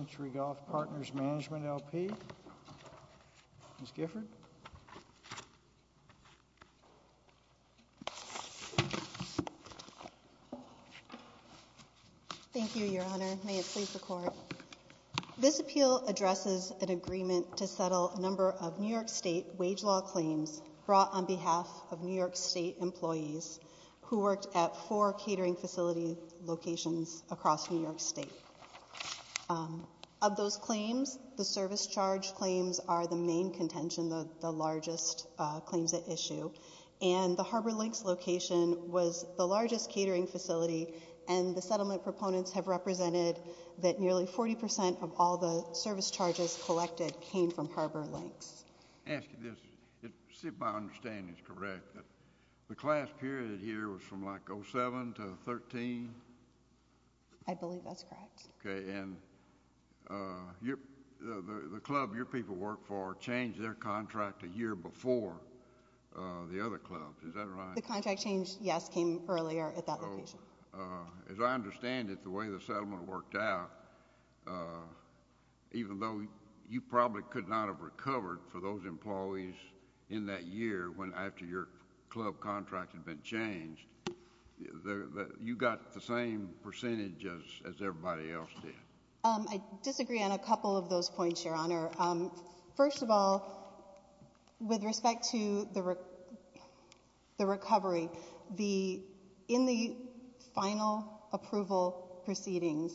LP. Ms. Gifford. Thank you, Your Honor. May it please the Court. This appeal addresses an agreement to settle a number of New York State wage law claims brought on behalf of New York State employees who worked at four catering facility locations across New York State. Of those claims, the service charge claims are the main contention, the largest claims at issue. And the Harbor Links location was the largest catering facility, and the settlement proponents have represented that nearly 40 percent of all the service charges collected came from Harbor Links. May I ask you this? If my understanding is correct, the class period here was from, like, 07 to 13? I believe that's correct. OK. And the club your people worked for changed their contract a year before the other clubs. Is that right? The contract change, yes, came earlier at that location. So, as I understand it, the way the settlement worked out, even though you probably could not have recovered for those employees in that year after your club contract had been changed, you got the same percentage as everybody else did. I disagree on a couple of those points, Your Honor. First of all, with respect to the recovery, in the final approval proceedings,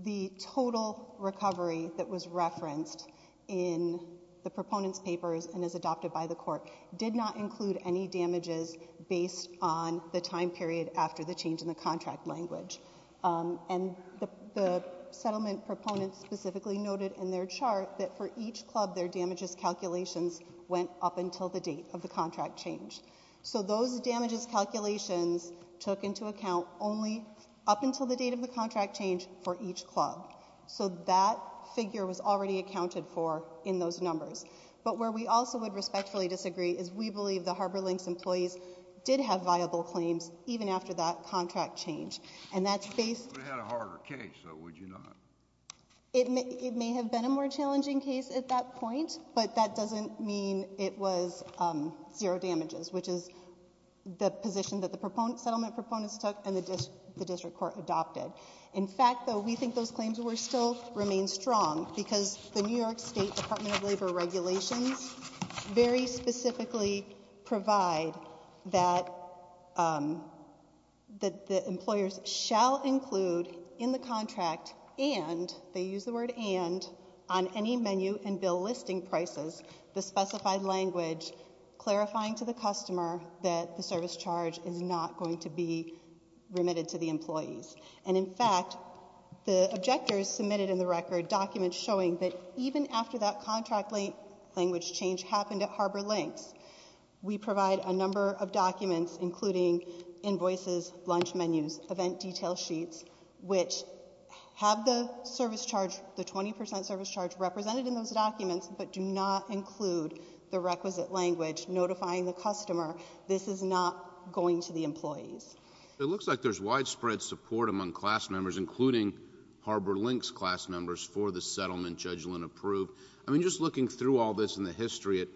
the total recovery that was referenced in the proponents' papers and is adopted by the Court did not include any damages based on the time period after the change in the contract language. And the settlement proponents specifically noted in their chart that for each club their damages calculations went up until the date of the contract change. So those damages calculations took into account only up until the date of the contract change for each club. So that figure was already accounted for in those numbers. But where we also would respectfully disagree is we believe the Harbor Links employees did have viable claims even after that contract change. And that's based... We would have had a harder case, though, would you not? It may have been a more challenging case at that point, but that doesn't mean it was zero damages, which is the position that the settlement proponents took and the remain strong because the New York State Department of Labor regulations very specifically provide that the employers shall include in the contract and, they use the word and, on any menu and bill listing prices the specified language clarifying to the customer that the service charge is not going to be remitted to the employees. And in fact, the objectors submitted in the record documents showing that even after that contract language change happened at Harbor Links, we provide a number of documents including invoices, lunch menus, event detail sheets, which have the service charge, the 20% service charge represented in those documents but do not include the requisite language notifying the customer this is not going to the employees. It looks like there's widespread support among class members including Harbor Links class members for the settlement, Judge Lynn approved. I mean, just looking through all this in the history,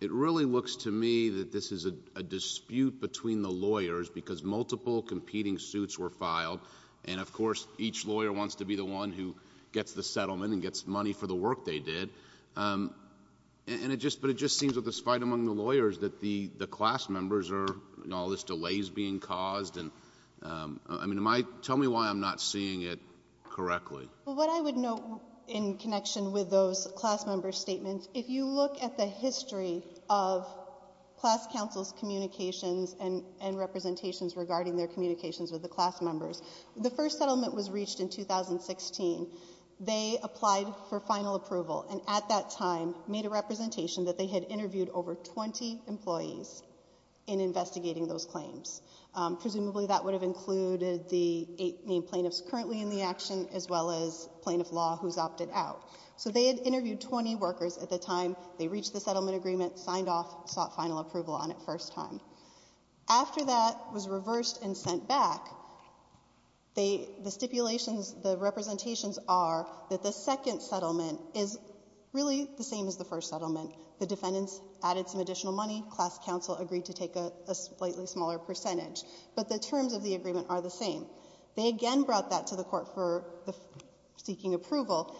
it really looks to me that this is a dispute between the lawyers because multiple competing suits were filed and, of course, each lawyer wants to be the one who gets the settlement and gets money for the work they did. And it just, but it just seems with this fight among the lawyers that the class members are, you know, all this delay is being caused and, I mean, tell me why I'm not seeing it correctly. Well, what I would note in connection with those class member statements, if you look at the history of class counsel's communications and representations regarding their communications with the class members, the first settlement was reached in 2016. They applied for final approval and at that time made a representation that they had interviewed over 20 employees in investigating those claims. Presumably that would have included the eight main plaintiffs currently in the action as well as plaintiff law who's opted out. So they had interviewed 20 workers at the time they reached the settlement agreement, signed off, sought final approval on it first time. After that was reversed and sent back, they, the stipulations, the representations are that the second settlement is really the same as the first settlement. The defendants added some additional money. Class counsel agreed to take a slightly smaller percentage. But the terms of the agreement are the same. They again brought that to the court for the seeking approval.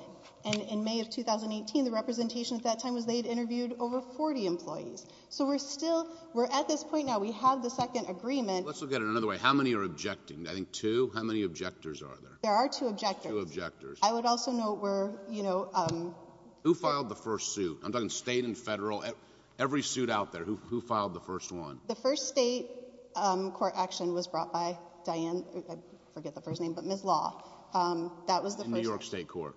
And in May of 2018, the representation at that time was they'd interviewed over 40 employees. So we're still, we're at this point now, we have the second agreement. Let's look at it another way. How many are objecting? I think two. How many objectors are there? There are two objectors. Two objectors. I would also note we're, you know, um. Who filed the first suit? I'm talking state and federal. Every suit out there, who, who filed the first one? The first state, um, court action was brought by Diane, I forget the first name, but Ms. Law. Um, that was the first. In New York State federal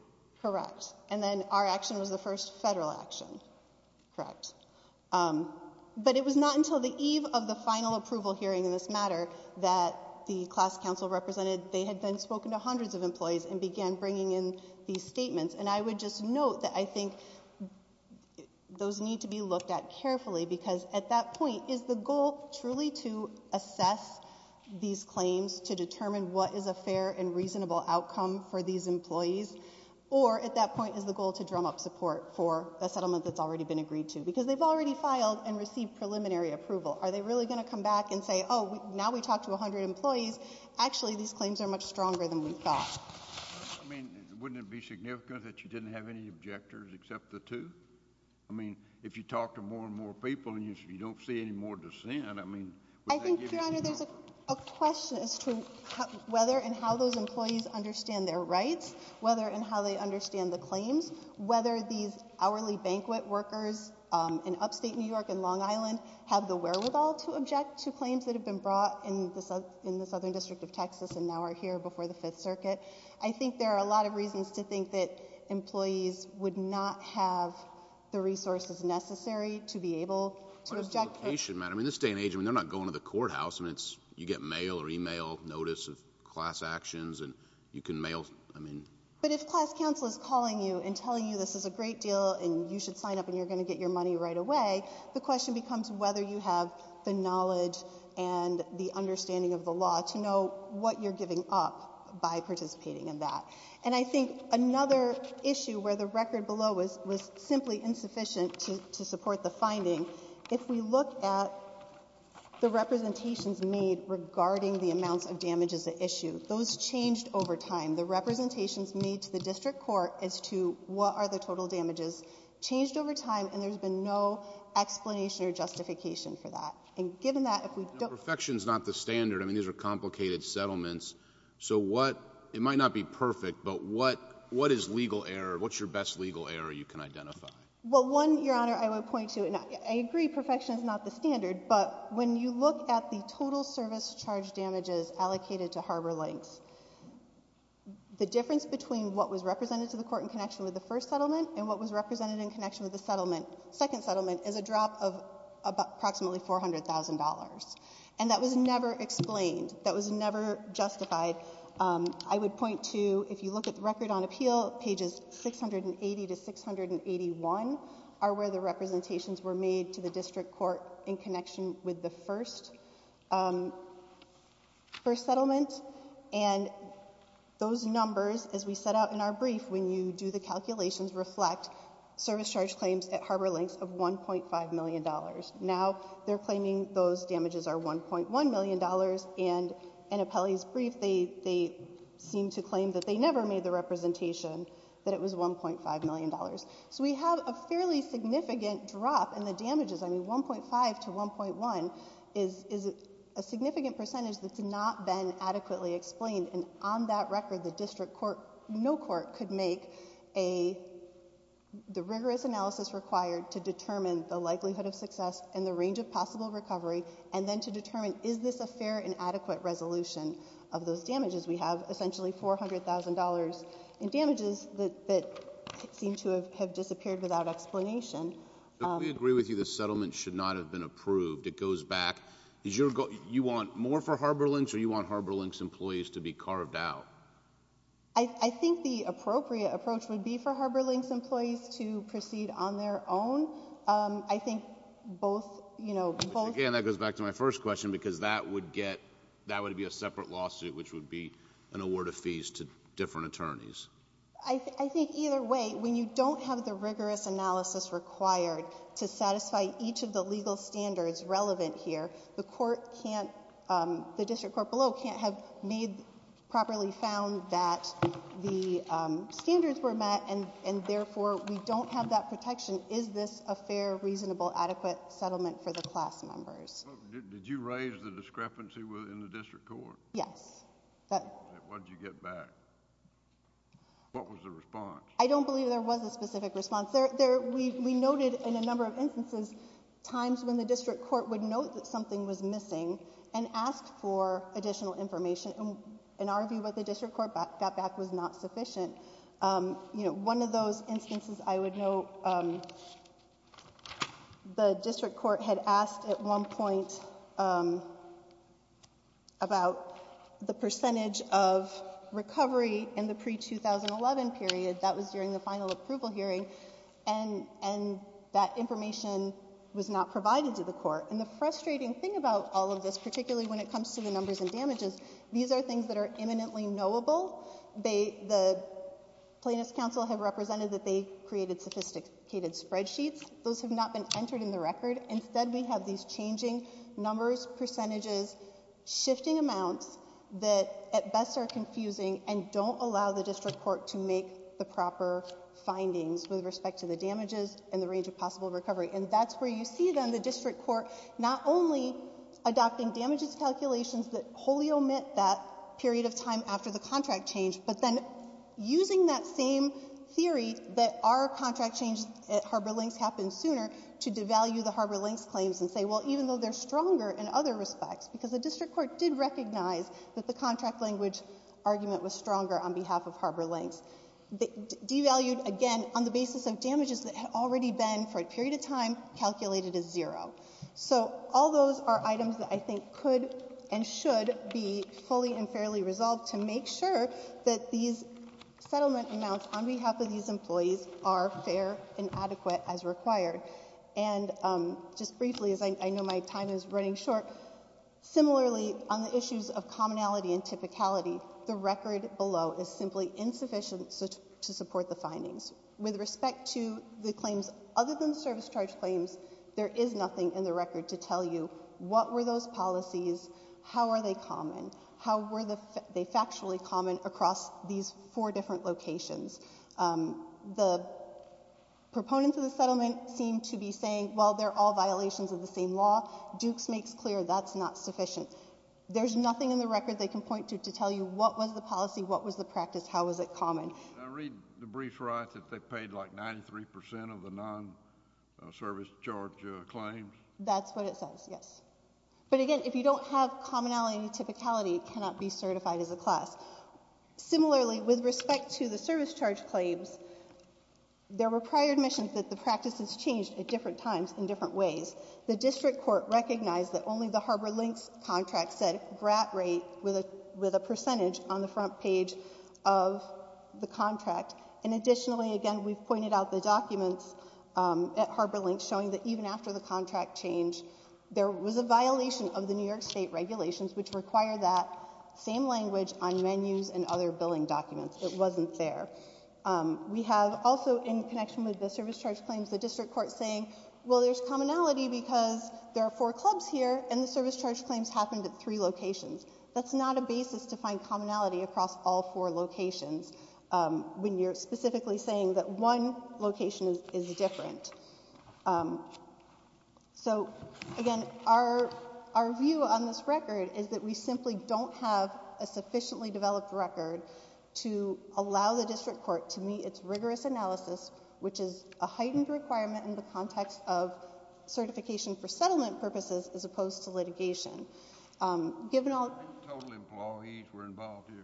action. Correct. Um, but it was not until the eve of the final approval hearing in this matter that the class counsel represented, they had then spoken to hundreds of employees and began bringing in these statements. And I would just note that I think those need to be looked at carefully because at that point, is the goal truly to assess these claims to determine what is a fair and reasonable outcome for these employees? Or at that point is the goal to drum up support for a settlement that's already been agreed to? Because they've already filed and received preliminary approval. Are they really going to come back and say, oh, now we talked to a hundred employees. Actually, these claims are much stronger than we thought. I mean, wouldn't it be significant that you didn't have any objectors except the two? I mean, if you talk to more and more people and you don't see any more dissent, I mean. I think, Your Honor, there's a question as to whether and how those employees understand their rights, whether and how they understand the claims, whether these hourly banquet workers in upstate New York and Long Island have the wherewithal to object to claims that have been brought in the Southern District of Texas and now are here before the Fifth Circuit. I think there are a lot of reasons to think that employees would not have the resources necessary to be able to object. But it's the location, madam. In this day and age, I mean, they're not going to the But if class counsel is calling you and telling you this is a great deal and you should sign up and you're going to get your money right away, the question becomes whether you have the knowledge and the understanding of the law to know what you're giving up by participating in that. And I think another issue where the record below was simply insufficient to support the finding, if we look at the representations made regarding the amounts of damage as an example, the representations made to the district court as to what are the total damages changed over time, and there's been no explanation or justification for that. And given that if we don't Perfection is not the standard. I mean, these are complicated settlements. So what, it might not be perfect, but what, what is legal error? What's your best legal error you can identify? Well, one, Your Honor, I would point to, and I agree perfection is not the standard, but when you look at the total service charge damages allocated to harbor links, the difference between what was represented to the court in connection with the first settlement and what was represented in connection with the settlement, second settlement, is a drop of approximately $400,000. And that was never explained. That was never justified. I would point to, if you look at the record on appeal, pages 680 to 681 are where the representations were made to the district court in connection with the first, first settlement. And those numbers, as we set out in our brief, when you do the calculations reflect service charge claims at harbor links of $1.5 million. Now they're claiming those damages are $1.1 million and in Apelli's brief, they, they seem to claim that they never made the representation that it was $1.5 million. So we have a fairly significant drop in the damages. I mean, 1.5 to 1.1 is, is a significant percentage that's not been adequately explained. And on that record, the district court, no court could make a, the rigorous analysis required to determine the likelihood of success and the range of possible recovery, and then to determine is this a fair and adequate resolution of those damages? We have essentially $400,000 in damages that, that seem to have, have disappeared without explanation. We agree with you, the settlement should not have been approved. It goes back. Is your goal, you want more for harbor links or you want harbor links employees to be carved out? I think the appropriate approach would be for harbor links employees to proceed on their own. I think both, you know, both. Again, that goes back to my first question, because that would get, that would be a separate lawsuit, which would be an award of fees to different attorneys. I, I think either way, when you don't have the rigorous analysis required to satisfy each of the legal standards relevant here, the court can't, um, the district court below can't have made, properly found that the, um, standards were met and, and therefore we don't have that protection. Is this a fair, reasonable, adequate settlement for the class members? Did you raise the discrepancy within the district court? Yes. What did you get back? What was the response? I don't believe there was a specific response. There, there, we, we noted in a number of instances, times when the district court would note that something was missing and ask for additional information. In our view, what the district court got back was not sufficient. Um, you know, one of those instances I would note, um, the district court had asked at one point, um, about the percentage of recovery in the pre-2011 period, that was during the final approval hearing, and, and that information was not provided to the court. And the frustrating thing about all of this, particularly when it comes to the numbers and damages, these are things that are imminently knowable. They, the Plaintiffs' Council have represented that they created sophisticated spreadsheets. Those have not been entered in the record. Instead, we have these changing numbers, percentages, shifting amounts that at best are confusing and don't allow the district court to make the proper findings with respect to the damages and the range of possible recovery. And that's where you see, then, the district court not only adopting damages calculations that wholly omit that period of time after the contract change, but then using that same theory that our contract change at Harbor Links claims and say, well, even though they're stronger in other respects, because the district court did recognize that the contract language argument was stronger on behalf of Harbor Links, devalued again on the basis of damages that had already been, for a period of time, calculated as zero. So all those are items that I think could and should be fully and fairly resolved to make sure that these settlement amounts on behalf of these employees are fair and adequate as required. And just briefly, as I know my time is running short, similarly, on the issues of commonality and typicality, the record below is simply insufficient to support the findings. With respect to the claims other than service charge claims, there is nothing in the record to tell you what were those policies, how are they common, how were they factually common across these four different locations. The proponents of the settlement seem to be saying, well, they're all violations of the same law. Duke's makes clear that's not sufficient. There's nothing in the record they can point to to tell you what was the policy, what was the practice, how was it common. Can I read the brief right that they paid, like, 93% of the non-service charge claims? That's what it says, yes. But again, if you don't have commonality and typicality, it cannot be certified as a class. Similarly, with respect to the service charge claims, there were prior admissions that the practices changed at different times in different ways. The district court recognized that only the Harbor Links contract said grant rate with a percentage on the front page of the contract. And additionally, again, we've pointed out the documents at Harbor Links, after the contract changed, there was a violation of the New York State regulations which required that same language on menus and other billing documents. It wasn't there. We have also, in connection with the service charge claims, the district court saying, well, there's commonality because there are four clubs here and the service charge claims happened at three locations. That's not a basis to find commonality across all four locations when you're specifically saying that one location is different. So, again, our view on this record is that we simply don't have a sufficiently developed record to allow the district court to meet its rigorous analysis, which is a heightened requirement in the context of certification Total employees were involved here?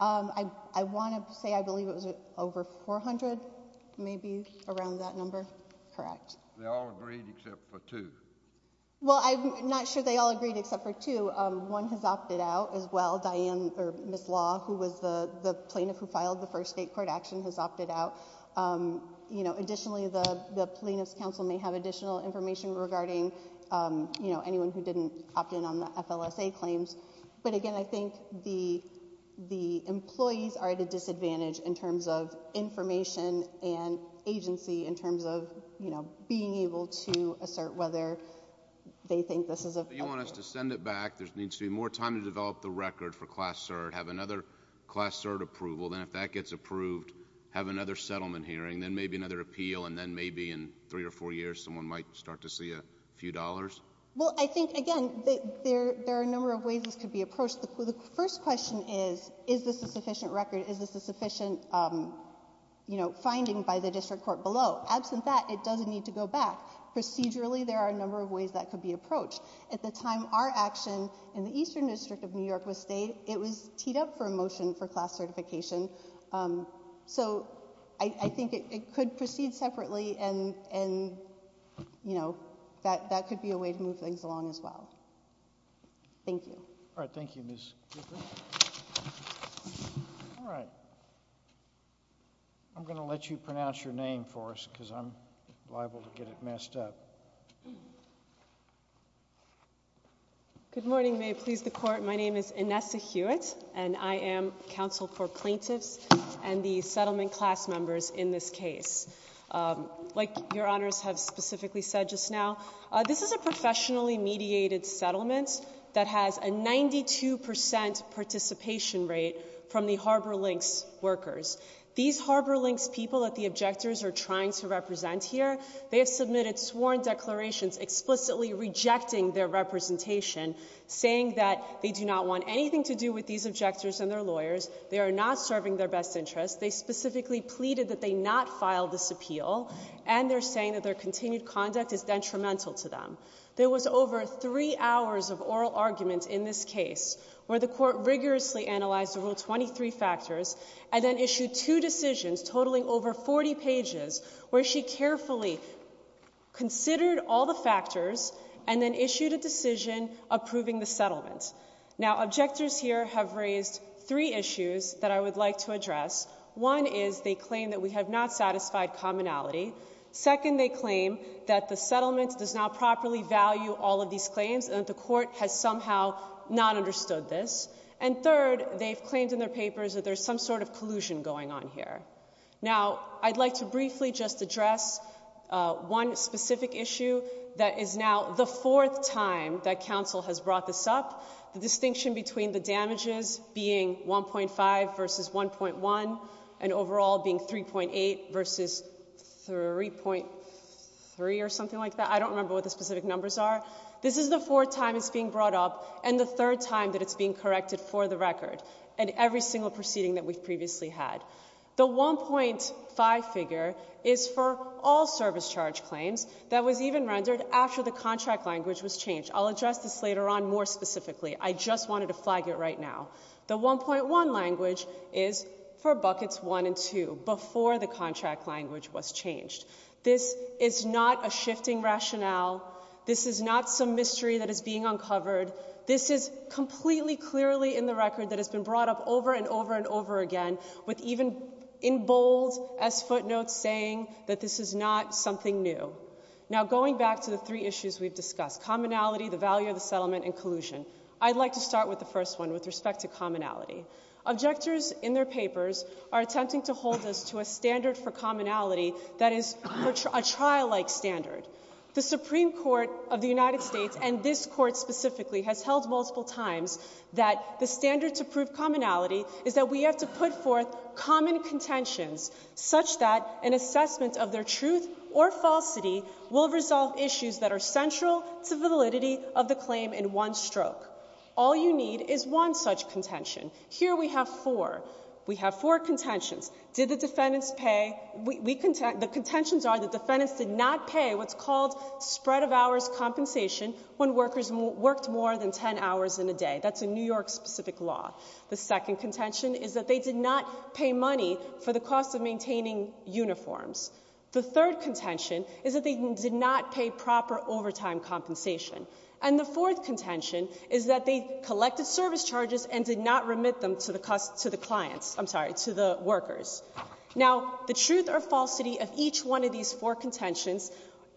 I want to say I believe it was over 400, maybe around that number. Correct. They all agreed except for two? Well, I'm not sure they all agreed except for two. One has opted out as well. Diane, or Ms. Law, who was the plaintiff who filed the first state court action, has opted out. Additionally, the plaintiff's counsel may have additional information regarding anyone who didn't opt in on the FLSA claims. But, again, I think the employees are at a disadvantage in terms of information and agency in terms of being able to assert whether they think this is... You want us to send it back. There needs to be more time to develop the record for Class Cert, have another Class Cert approval, then if that gets approved, have another settlement hearing, then maybe another appeal, and then maybe in three or four years someone might start to see a few dollars? Well, I think, again, there are a number of ways this could be approached. The first question is, is this a sufficient record? Is this a sufficient, you know, finding by the district court below? Absent that, it doesn't need to go back. Procedurally, there are a number of ways that could be approached. At the time our action in the Eastern District of New York was stayed, it was teed up for a motion for Class Certification, so I think it could proceed separately and, you know, that could be a way to move things along as well. Thank you. All right. Thank you, Ms. Cooper. All right. I'm going to let you pronounce your name for us because I'm liable to get it messed up. Good morning. May it please the Court. My name is Inessa Hewitt, and I am counsel for like Your Honors have specifically said just now. This is a professionally mediated settlement that has a 92 percent participation rate from the Harbor Links workers. These Harbor Links people that the objectors are trying to represent here, they have submitted sworn declarations explicitly rejecting their representation, saying that they do not want anything to do with these objectors and their lawyers, they are not serving their best interests. They specifically pleaded that they not file this appeal, and they're saying that their continued conduct is detrimental to them. There was over three hours of oral argument in this case where the Court rigorously analyzed the Rule 23 factors and then issued two decisions totaling over 40 pages where she carefully considered all the factors and then issued a decision approving the settlement. Now, objectors here have raised three issues that I would like to address. One is they claim that we have not satisfied commonality. Second, they claim that the settlement does not properly value all of these claims and that the Court has somehow not understood this. And third, they've claimed in their papers that there's some sort of collusion going on here. Now, I'd like to briefly just address one specific issue that is now the fourth time that counsel has brought this up, the distinction between the damages being 1.5 versus 1.1 and overall being 3.8 versus 3.3 or something like that. I don't remember what the specific numbers are. This is the fourth time it's being brought up and the third time that it's being corrected for the record in every single proceeding that we've previously had. The 1.5 figure is for all service charge claims that was even rendered after the contract language was changed. I'll address this later on more specifically. I just wanted to flag it right now. The 1.1 language is for buckets 1 and 2 before the contract language was changed. This is not a shifting rationale. This is not some mystery that is being uncovered. This is completely clearly in the record that has been brought up over and over and over again with even in bold as footnotes saying that this is not something new. Now, going back to the three issues we've discussed, commonality, the value of the settlement, and collusion, I'd like to start with the first one with respect to commonality. Objectors in their papers are attempting to hold us to a standard for commonality that is a trial-like standard. The Supreme Court of the United States and this court specifically has held multiple times that the standard to prove commonality is that we have to put forth common contentions such that an assessment of their claim in one stroke. All you need is one such contention. Here we have four. We have four contentions. The contentions are the defendants did not pay what's called spread of hours compensation when workers worked more than 10 hours in a day. That's a New York-specific law. The second contention is that they did not pay money for the cost of maintaining uniforms. The third contention is that they did not pay proper overtime compensation. And the fourth contention is that they collected service charges and did not remit them to the clients, I'm sorry, to the workers. Now, the truth or falsity of each one of these four contentions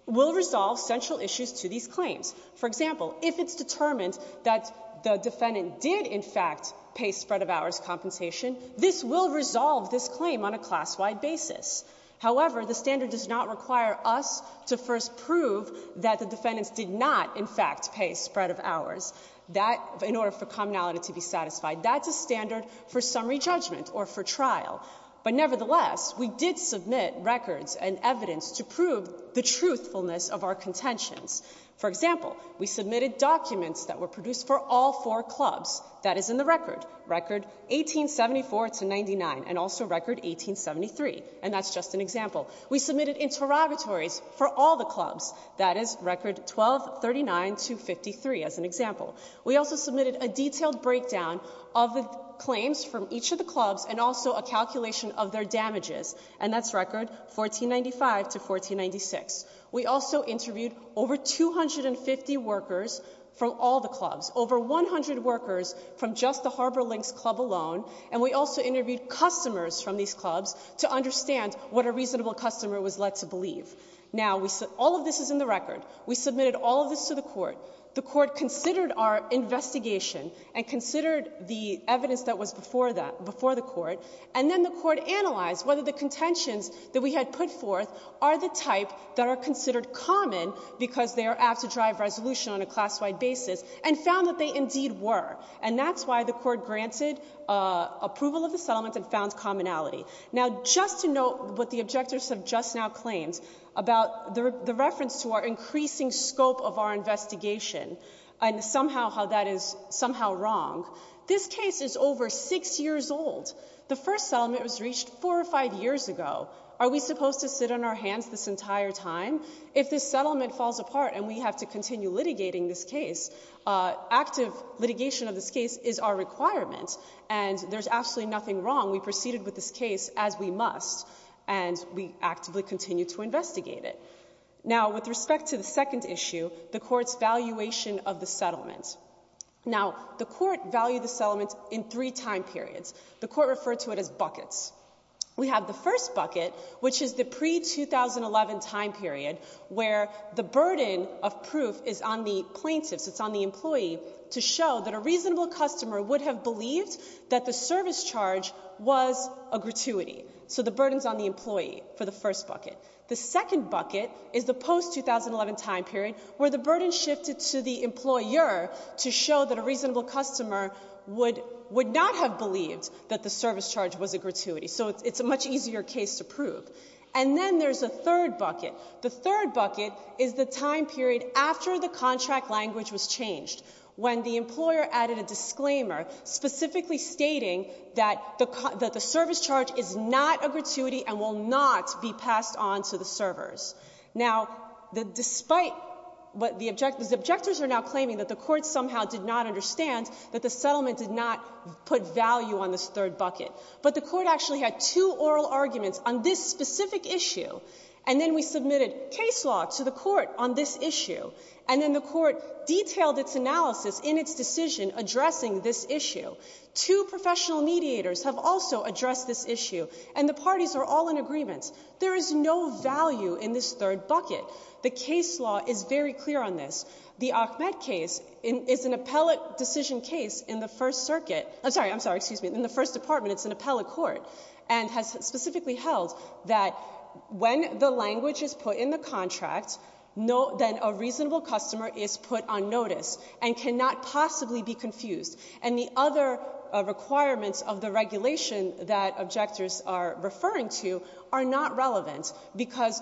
will resolve central issues to these claims. For example, if it's determined that the defendant did in fact pay spread of hours compensation, this will resolve this issue. However, the standard does not require us to first prove that the defendants did not in fact pay spread of hours. That, in order for commonality to be satisfied, that's a standard for summary judgment or for trial. But nevertheless, we did submit records and evidence to prove the truthfulness of our contentions. For example, we submitted documents that were produced for all four clubs. That is in the record, record 1874 to 99 and also record 1873. And that's just an example. We submitted interrogatories for all the clubs. That is record 1239 to 53 as an example. We also submitted a detailed breakdown of the claims from each of the clubs and also a calculation of their damages. And that's record 1495 to 1496. We also interviewed over 250 workers from all the clubs, over 100 workers from just the Harbor Links Club alone, and we also interviewed customers from these clubs to understand what a reasonable customer was led to believe. Now, all of this is in the record. We submitted all of this to the court. The court considered our investigation and considered the evidence that was before the court, and then the court analyzed whether the contentions that we had put forth are the type that are considered common because they are apt to drive resolution on a class-wide basis and found that they indeed were. And that's why the court granted approval of the settlement and found commonality. Now, just to note what the objectors have just now claimed about the reference to our increasing scope of our investigation and somehow how that is somehow wrong, this case is over six years old. The first settlement was reached four or five years ago. Are we supposed to sit on our hands this entire time? If this settlement falls apart and we have to continue litigating this case, active litigation of this case is our requirement, and there's absolutely nothing wrong. We proceeded with this case as we must, and we actively continue to investigate it. Now, with respect to the second issue, the court's valuation of the settlement. Now, the court valued the settlement in three time periods. The court referred to it as buckets. We have the first bucket, which is the pre-2011 time period where the burden is on the plaintiffs, it's on the employee, to show that a reasonable customer would have believed that the service charge was a gratuity. So the burden's on the employee for the first bucket. The second bucket is the post-2011 time period where the burden shifted to the employer to show that a reasonable customer would not have believed that the service charge was a gratuity. So it's a much easier case to prove. And then there's a third bucket, is the time period after the contract language was changed, when the employer added a disclaimer specifically stating that the service charge is not a gratuity and will not be passed on to the servers. Now, despite what the objectors are now claiming, that the court somehow did not understand that the settlement did not put value on this third bucket. But the court actually had two oral arguments on this specific issue, and then we submitted case law to the court on this issue, and then the court detailed its analysis in its decision addressing this issue. Two professional mediators have also addressed this issue, and the parties are all in agreement. There is no value in this third bucket. The case law is very clear on this. The Ahmed case is an appellate decision case in the First Circuit, I'm sorry, I'm sorry, excuse me, in the First Department, it's an appellate specifically held that when the language is put in the contract, then a reasonable customer is put on notice and cannot possibly be confused. And the other requirements of the regulation that objectors are referring to are not relevant, because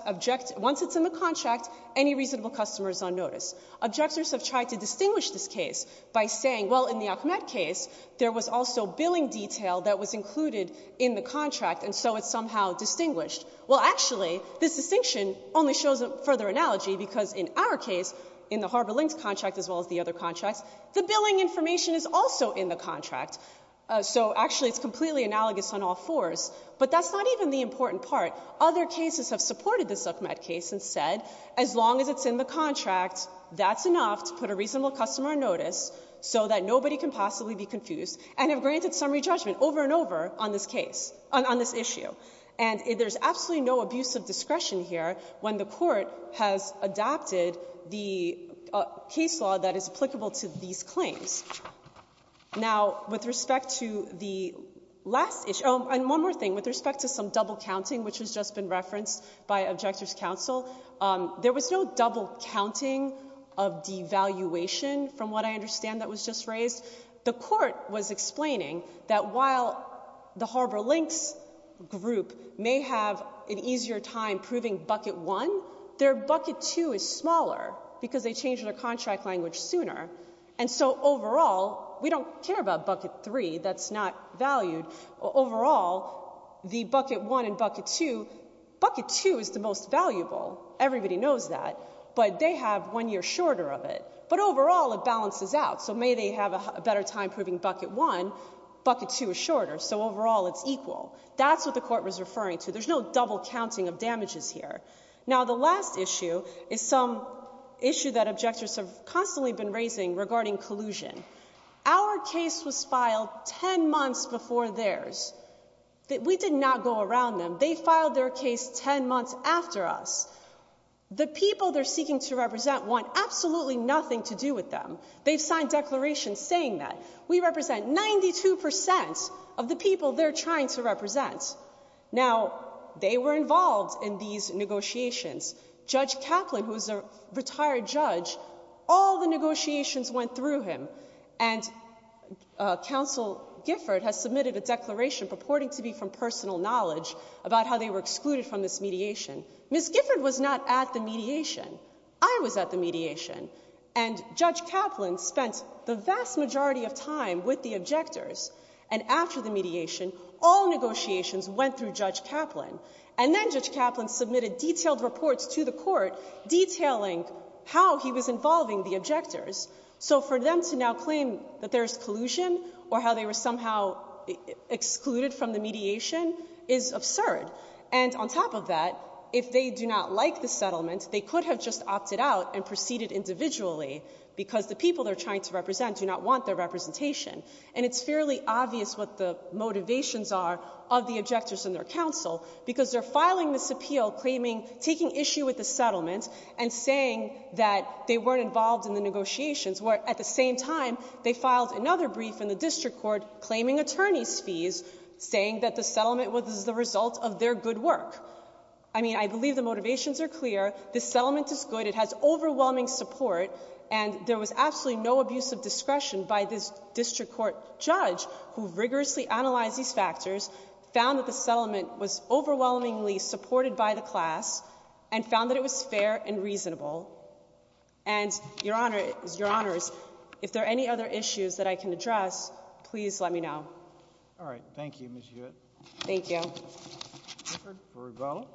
once it's in the contract, any reasonable customer is on notice. Objectors have tried to distinguish this case by saying, well, in the Ahmed case, there was also billing detail that was in the contract, and so it's somehow distinguished. Well, actually, this distinction only shows a further analogy, because in our case, in the Harbor Links contract as well as the other contracts, the billing information is also in the contract. So actually, it's completely analogous on all fours. But that's not even the important part. Other cases have supported this Ahmed case and said, as long as it's in the contract, that's enough to put a reasonable customer on notice so that nobody can possibly be confused, and have granted summary judgment over and over on this case, on this issue. And there's absolutely no abuse of discretion here when the Court has adapted the case law that is applicable to these claims. Now, with respect to the last issue, and one more thing, with respect to some double counting, which has just been referenced by Objectors Counsel, there was no double counting of devaluation from what I understand that was just raised. The Court was explaining that while the Harbor Links group may have an easier time proving Bucket 1, their Bucket 2 is smaller, because they changed their contract language sooner. And so overall, we don't care about Bucket 3. That's not valued. Overall, the Bucket 1 and Bucket 2, Bucket 2 is the most valuable. Everybody knows that. But they have one year shorter of it. But overall, it balances out. So may they have a better time proving Bucket 1, Bucket 2 is shorter. So overall, it's equal. That's what the Court was referring to. There's no double counting of damages here. Now, the last issue is some issue that Objectors have constantly been raising regarding collusion. Our case was filed 10 months before theirs. We did not go around them. They filed their case 10 months after us. The people they're seeking to represent want absolutely nothing to do with them. They've signed declarations saying that. We represent 92% of the people they're trying to represent. Now, they were involved in these negotiations. Judge Kaplan, who is a retired judge, all the negotiations went through him. And Counsel Gifford has submitted a declaration purporting to be from personal knowledge about how they were excluded from this mediation. Ms. Gifford was not at the mediation. I was at the mediation. And Judge Kaplan spent the vast majority of time with the Objectors. And after the mediation, all negotiations went through Judge Kaplan. And then Judge Kaplan submitted detailed reports to the Court detailing how he was involving the Objectors. So for them to now claim that there's collusion or how they were somehow excluded from the mediation is absurd. And on top of that, if they do not like the settlement, they could have just opted out and proceeded individually, because the people they're trying to represent do not want their representation. And it's fairly obvious what the motivations are of the Objectors and their counsel, because they're filing this appeal claiming, taking issue with the settlement and saying that they weren't involved in the negotiations, where at the same time, they filed another brief in the District Court claiming attorneys' fees, saying that the settlement was the result of their good work. I mean, I believe the motivations are clear. The settlement is good. It has overwhelming support. And there was absolutely no abuse of discretion by this District Court judge, who rigorously analyzed these factors, found that the settlement was overwhelmingly supported by the class, and found that it was fair and reasonable. And, Your Honors, if there are any other issues that I can address, please let me know. All right. Thank you, Ms. Hewitt. Thank you. Record for rebuttal.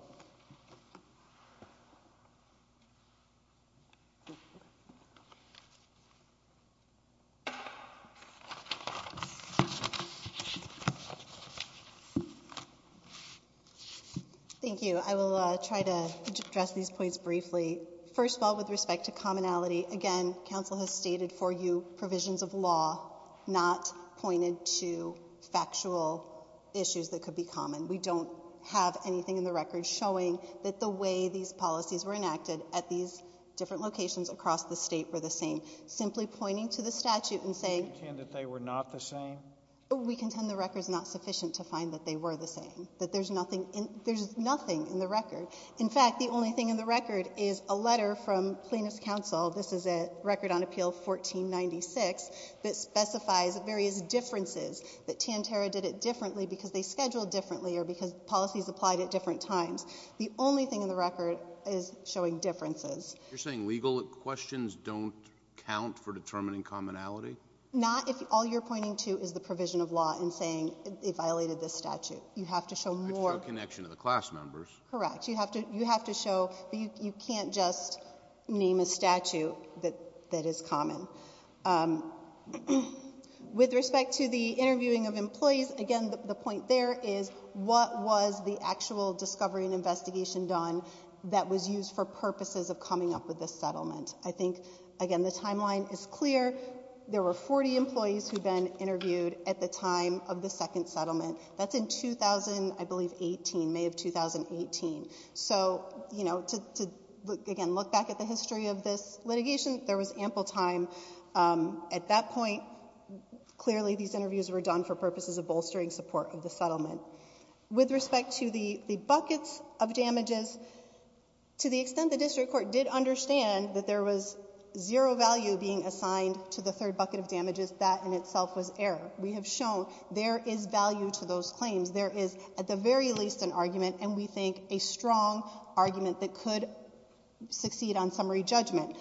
Thank you. I will try to address these points briefly. First of all, with respect to factual issues that could be common, we don't have anything in the record showing that the way these policies were enacted at these different locations across the State were the same. Simply pointing to the statute and saying You contend that they were not the same? We contend the record is not sufficient to find that they were the same, that there's nothing in the record. In fact, the only thing in the record is a letter from Plaintiff's Record on Appeal 1496 that specifies various differences, that Tanterra did it differently because they scheduled differently or because policies applied at different times. The only thing in the record is showing differences. You're saying legal questions don't count for determining commonality? Not if all you're pointing to is the provision of law and saying they violated this statute. You have to show more I'd feel a connection to the class members. Correct. You have to show that you can't just name a statute that is common. With respect to the interviewing of employees, again, the point there is what was the actual discovery and investigation done that was used for purposes of coming up with this settlement? I think, again, the timeline is clear. There were 40 employees who'd been interviewed at the time of the second settlement. That's in 2000, I believe, 18, May of 2018. So, you know, to, again, look back at the history of this litigation, there was ample time. At that point, clearly these interviews were done for purposes of bolstering support of the settlement. With respect to the buckets of damages, to the extent the district court did understand that there was zero value being assigned to the third bucket of damages, that in itself was error. We have shown there is value to those claims. There is, at the very least, an argument, and we think a strong argument that could succeed on summary judgment.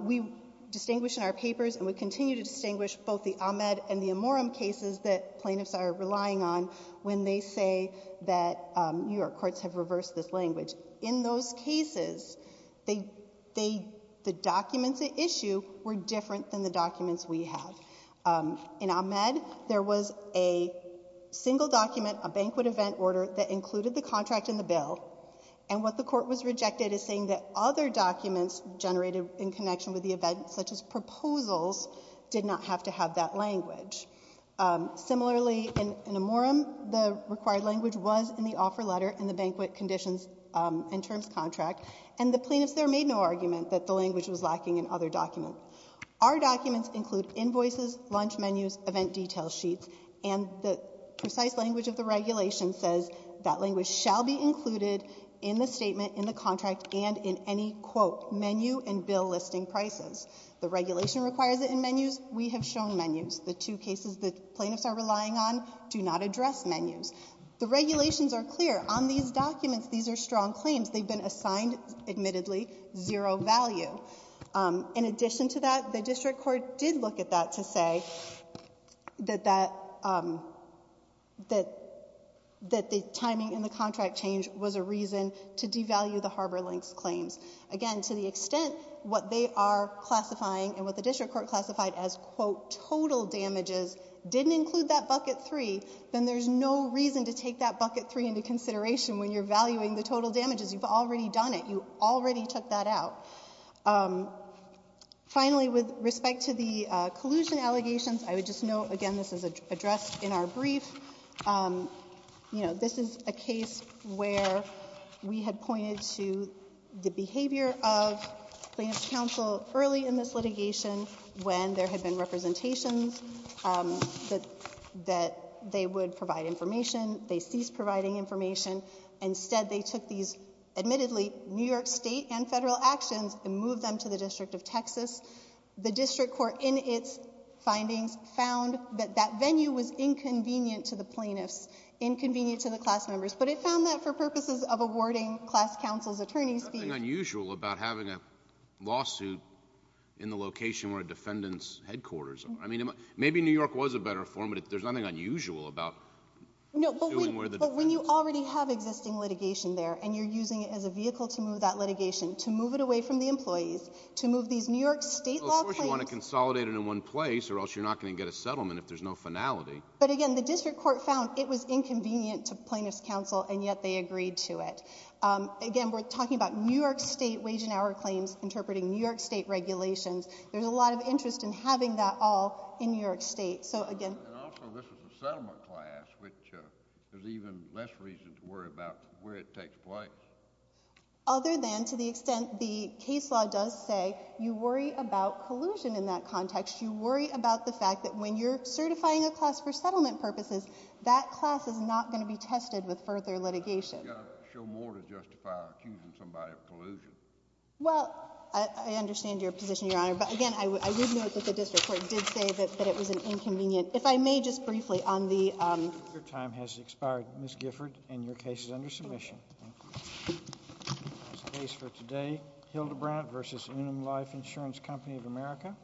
We distinguish in our papers, and we continue to distinguish, both the Ahmed and the Amorum cases that plaintiffs are relying on when they say that New York courts have reversed this language. In those cases, the documents at issue were different than the documents we have. In Ahmed, there was a single document, a banquet event order, that included the contract and the bill. And what the Court was rejected as saying that other documents generated in connection with the event, such as proposals, did not have to have that language. Similarly, in Amorum, the required language was in the offer letter and the banquet conditions and terms contract, and the plaintiffs there made no argument that the language was lacking in other documents. Our documents include invoices, lunch menus, event detail sheets, and the precise language of the regulation says that language shall be included in the statement, in the contract, and in any, quote, menu and bill listing prices. The regulation requires it in menus. We have shown menus. The two cases that plaintiffs are relying on do not address menus. The regulations are clear. On these documents, these are strong claims. They've been assigned, admittedly, zero value. In addition to that, the District Court did look at that to say that the timing in the contract change was a reason to devalue the Harbor Links claims. Again, to the extent what they are classifying and what the District Court classified as, quote, total damages didn't include that bucket three, then there's no reason to take that bucket three into consideration when you're valuing the total damages. You've already done it. You already took that out. Finally, with respect to the collusion allegations, I would just note, again, this is addressed in our brief. You know, this is a case where we had pointed to the behavior of plaintiff's counsel early in this litigation when there had been representations that they would provide information. They ceased providing information. Instead, they took these, admittedly, New York State and federal actions and moved them to the District of Texas. The District Court, in its findings, found that that venue was inconvenient to the plaintiffs, inconvenient to the class members, but it found that for purposes of awarding class counsel's attorneys fees. There's nothing unusual about having a lawsuit in the location where a defendant's headquarters are. I mean, maybe New York was a better forum, but there's nothing unusual about suing where the defense is. No, but when you already have existing litigation there and you're using it as a vehicle to move that litigation, to move it away from the employees, to move these New York State law claims— Well, of course you want to consolidate it in one place, or else you're not going to get a settlement if there's no finality. But, again, the District Court found it was inconvenient to plaintiffs' counsel, and yet they agreed to it. Again, we're talking about New York State wage and hour claims interpreting New York State regulations. There's a lot of interest in having that all in New York State. And also, this was a settlement class, which there's even less reason to worry about where it takes place. Other than to the extent the case law does say you worry about collusion in that context, you worry about the fact that when you're certifying a class for settlement purposes, that class is not going to be tested with further litigation. You've got to show more to justify accusing somebody of collusion. Well, I understand your position, Your Honor. But, again, I would note that the District Court did say that it was an inconvenient— If I may just briefly on the— Your time has expired, Ms. Gifford, and your case is under submission. Thank you. The case for today, Hildebrandt v. Unum Life Insurance Company of America.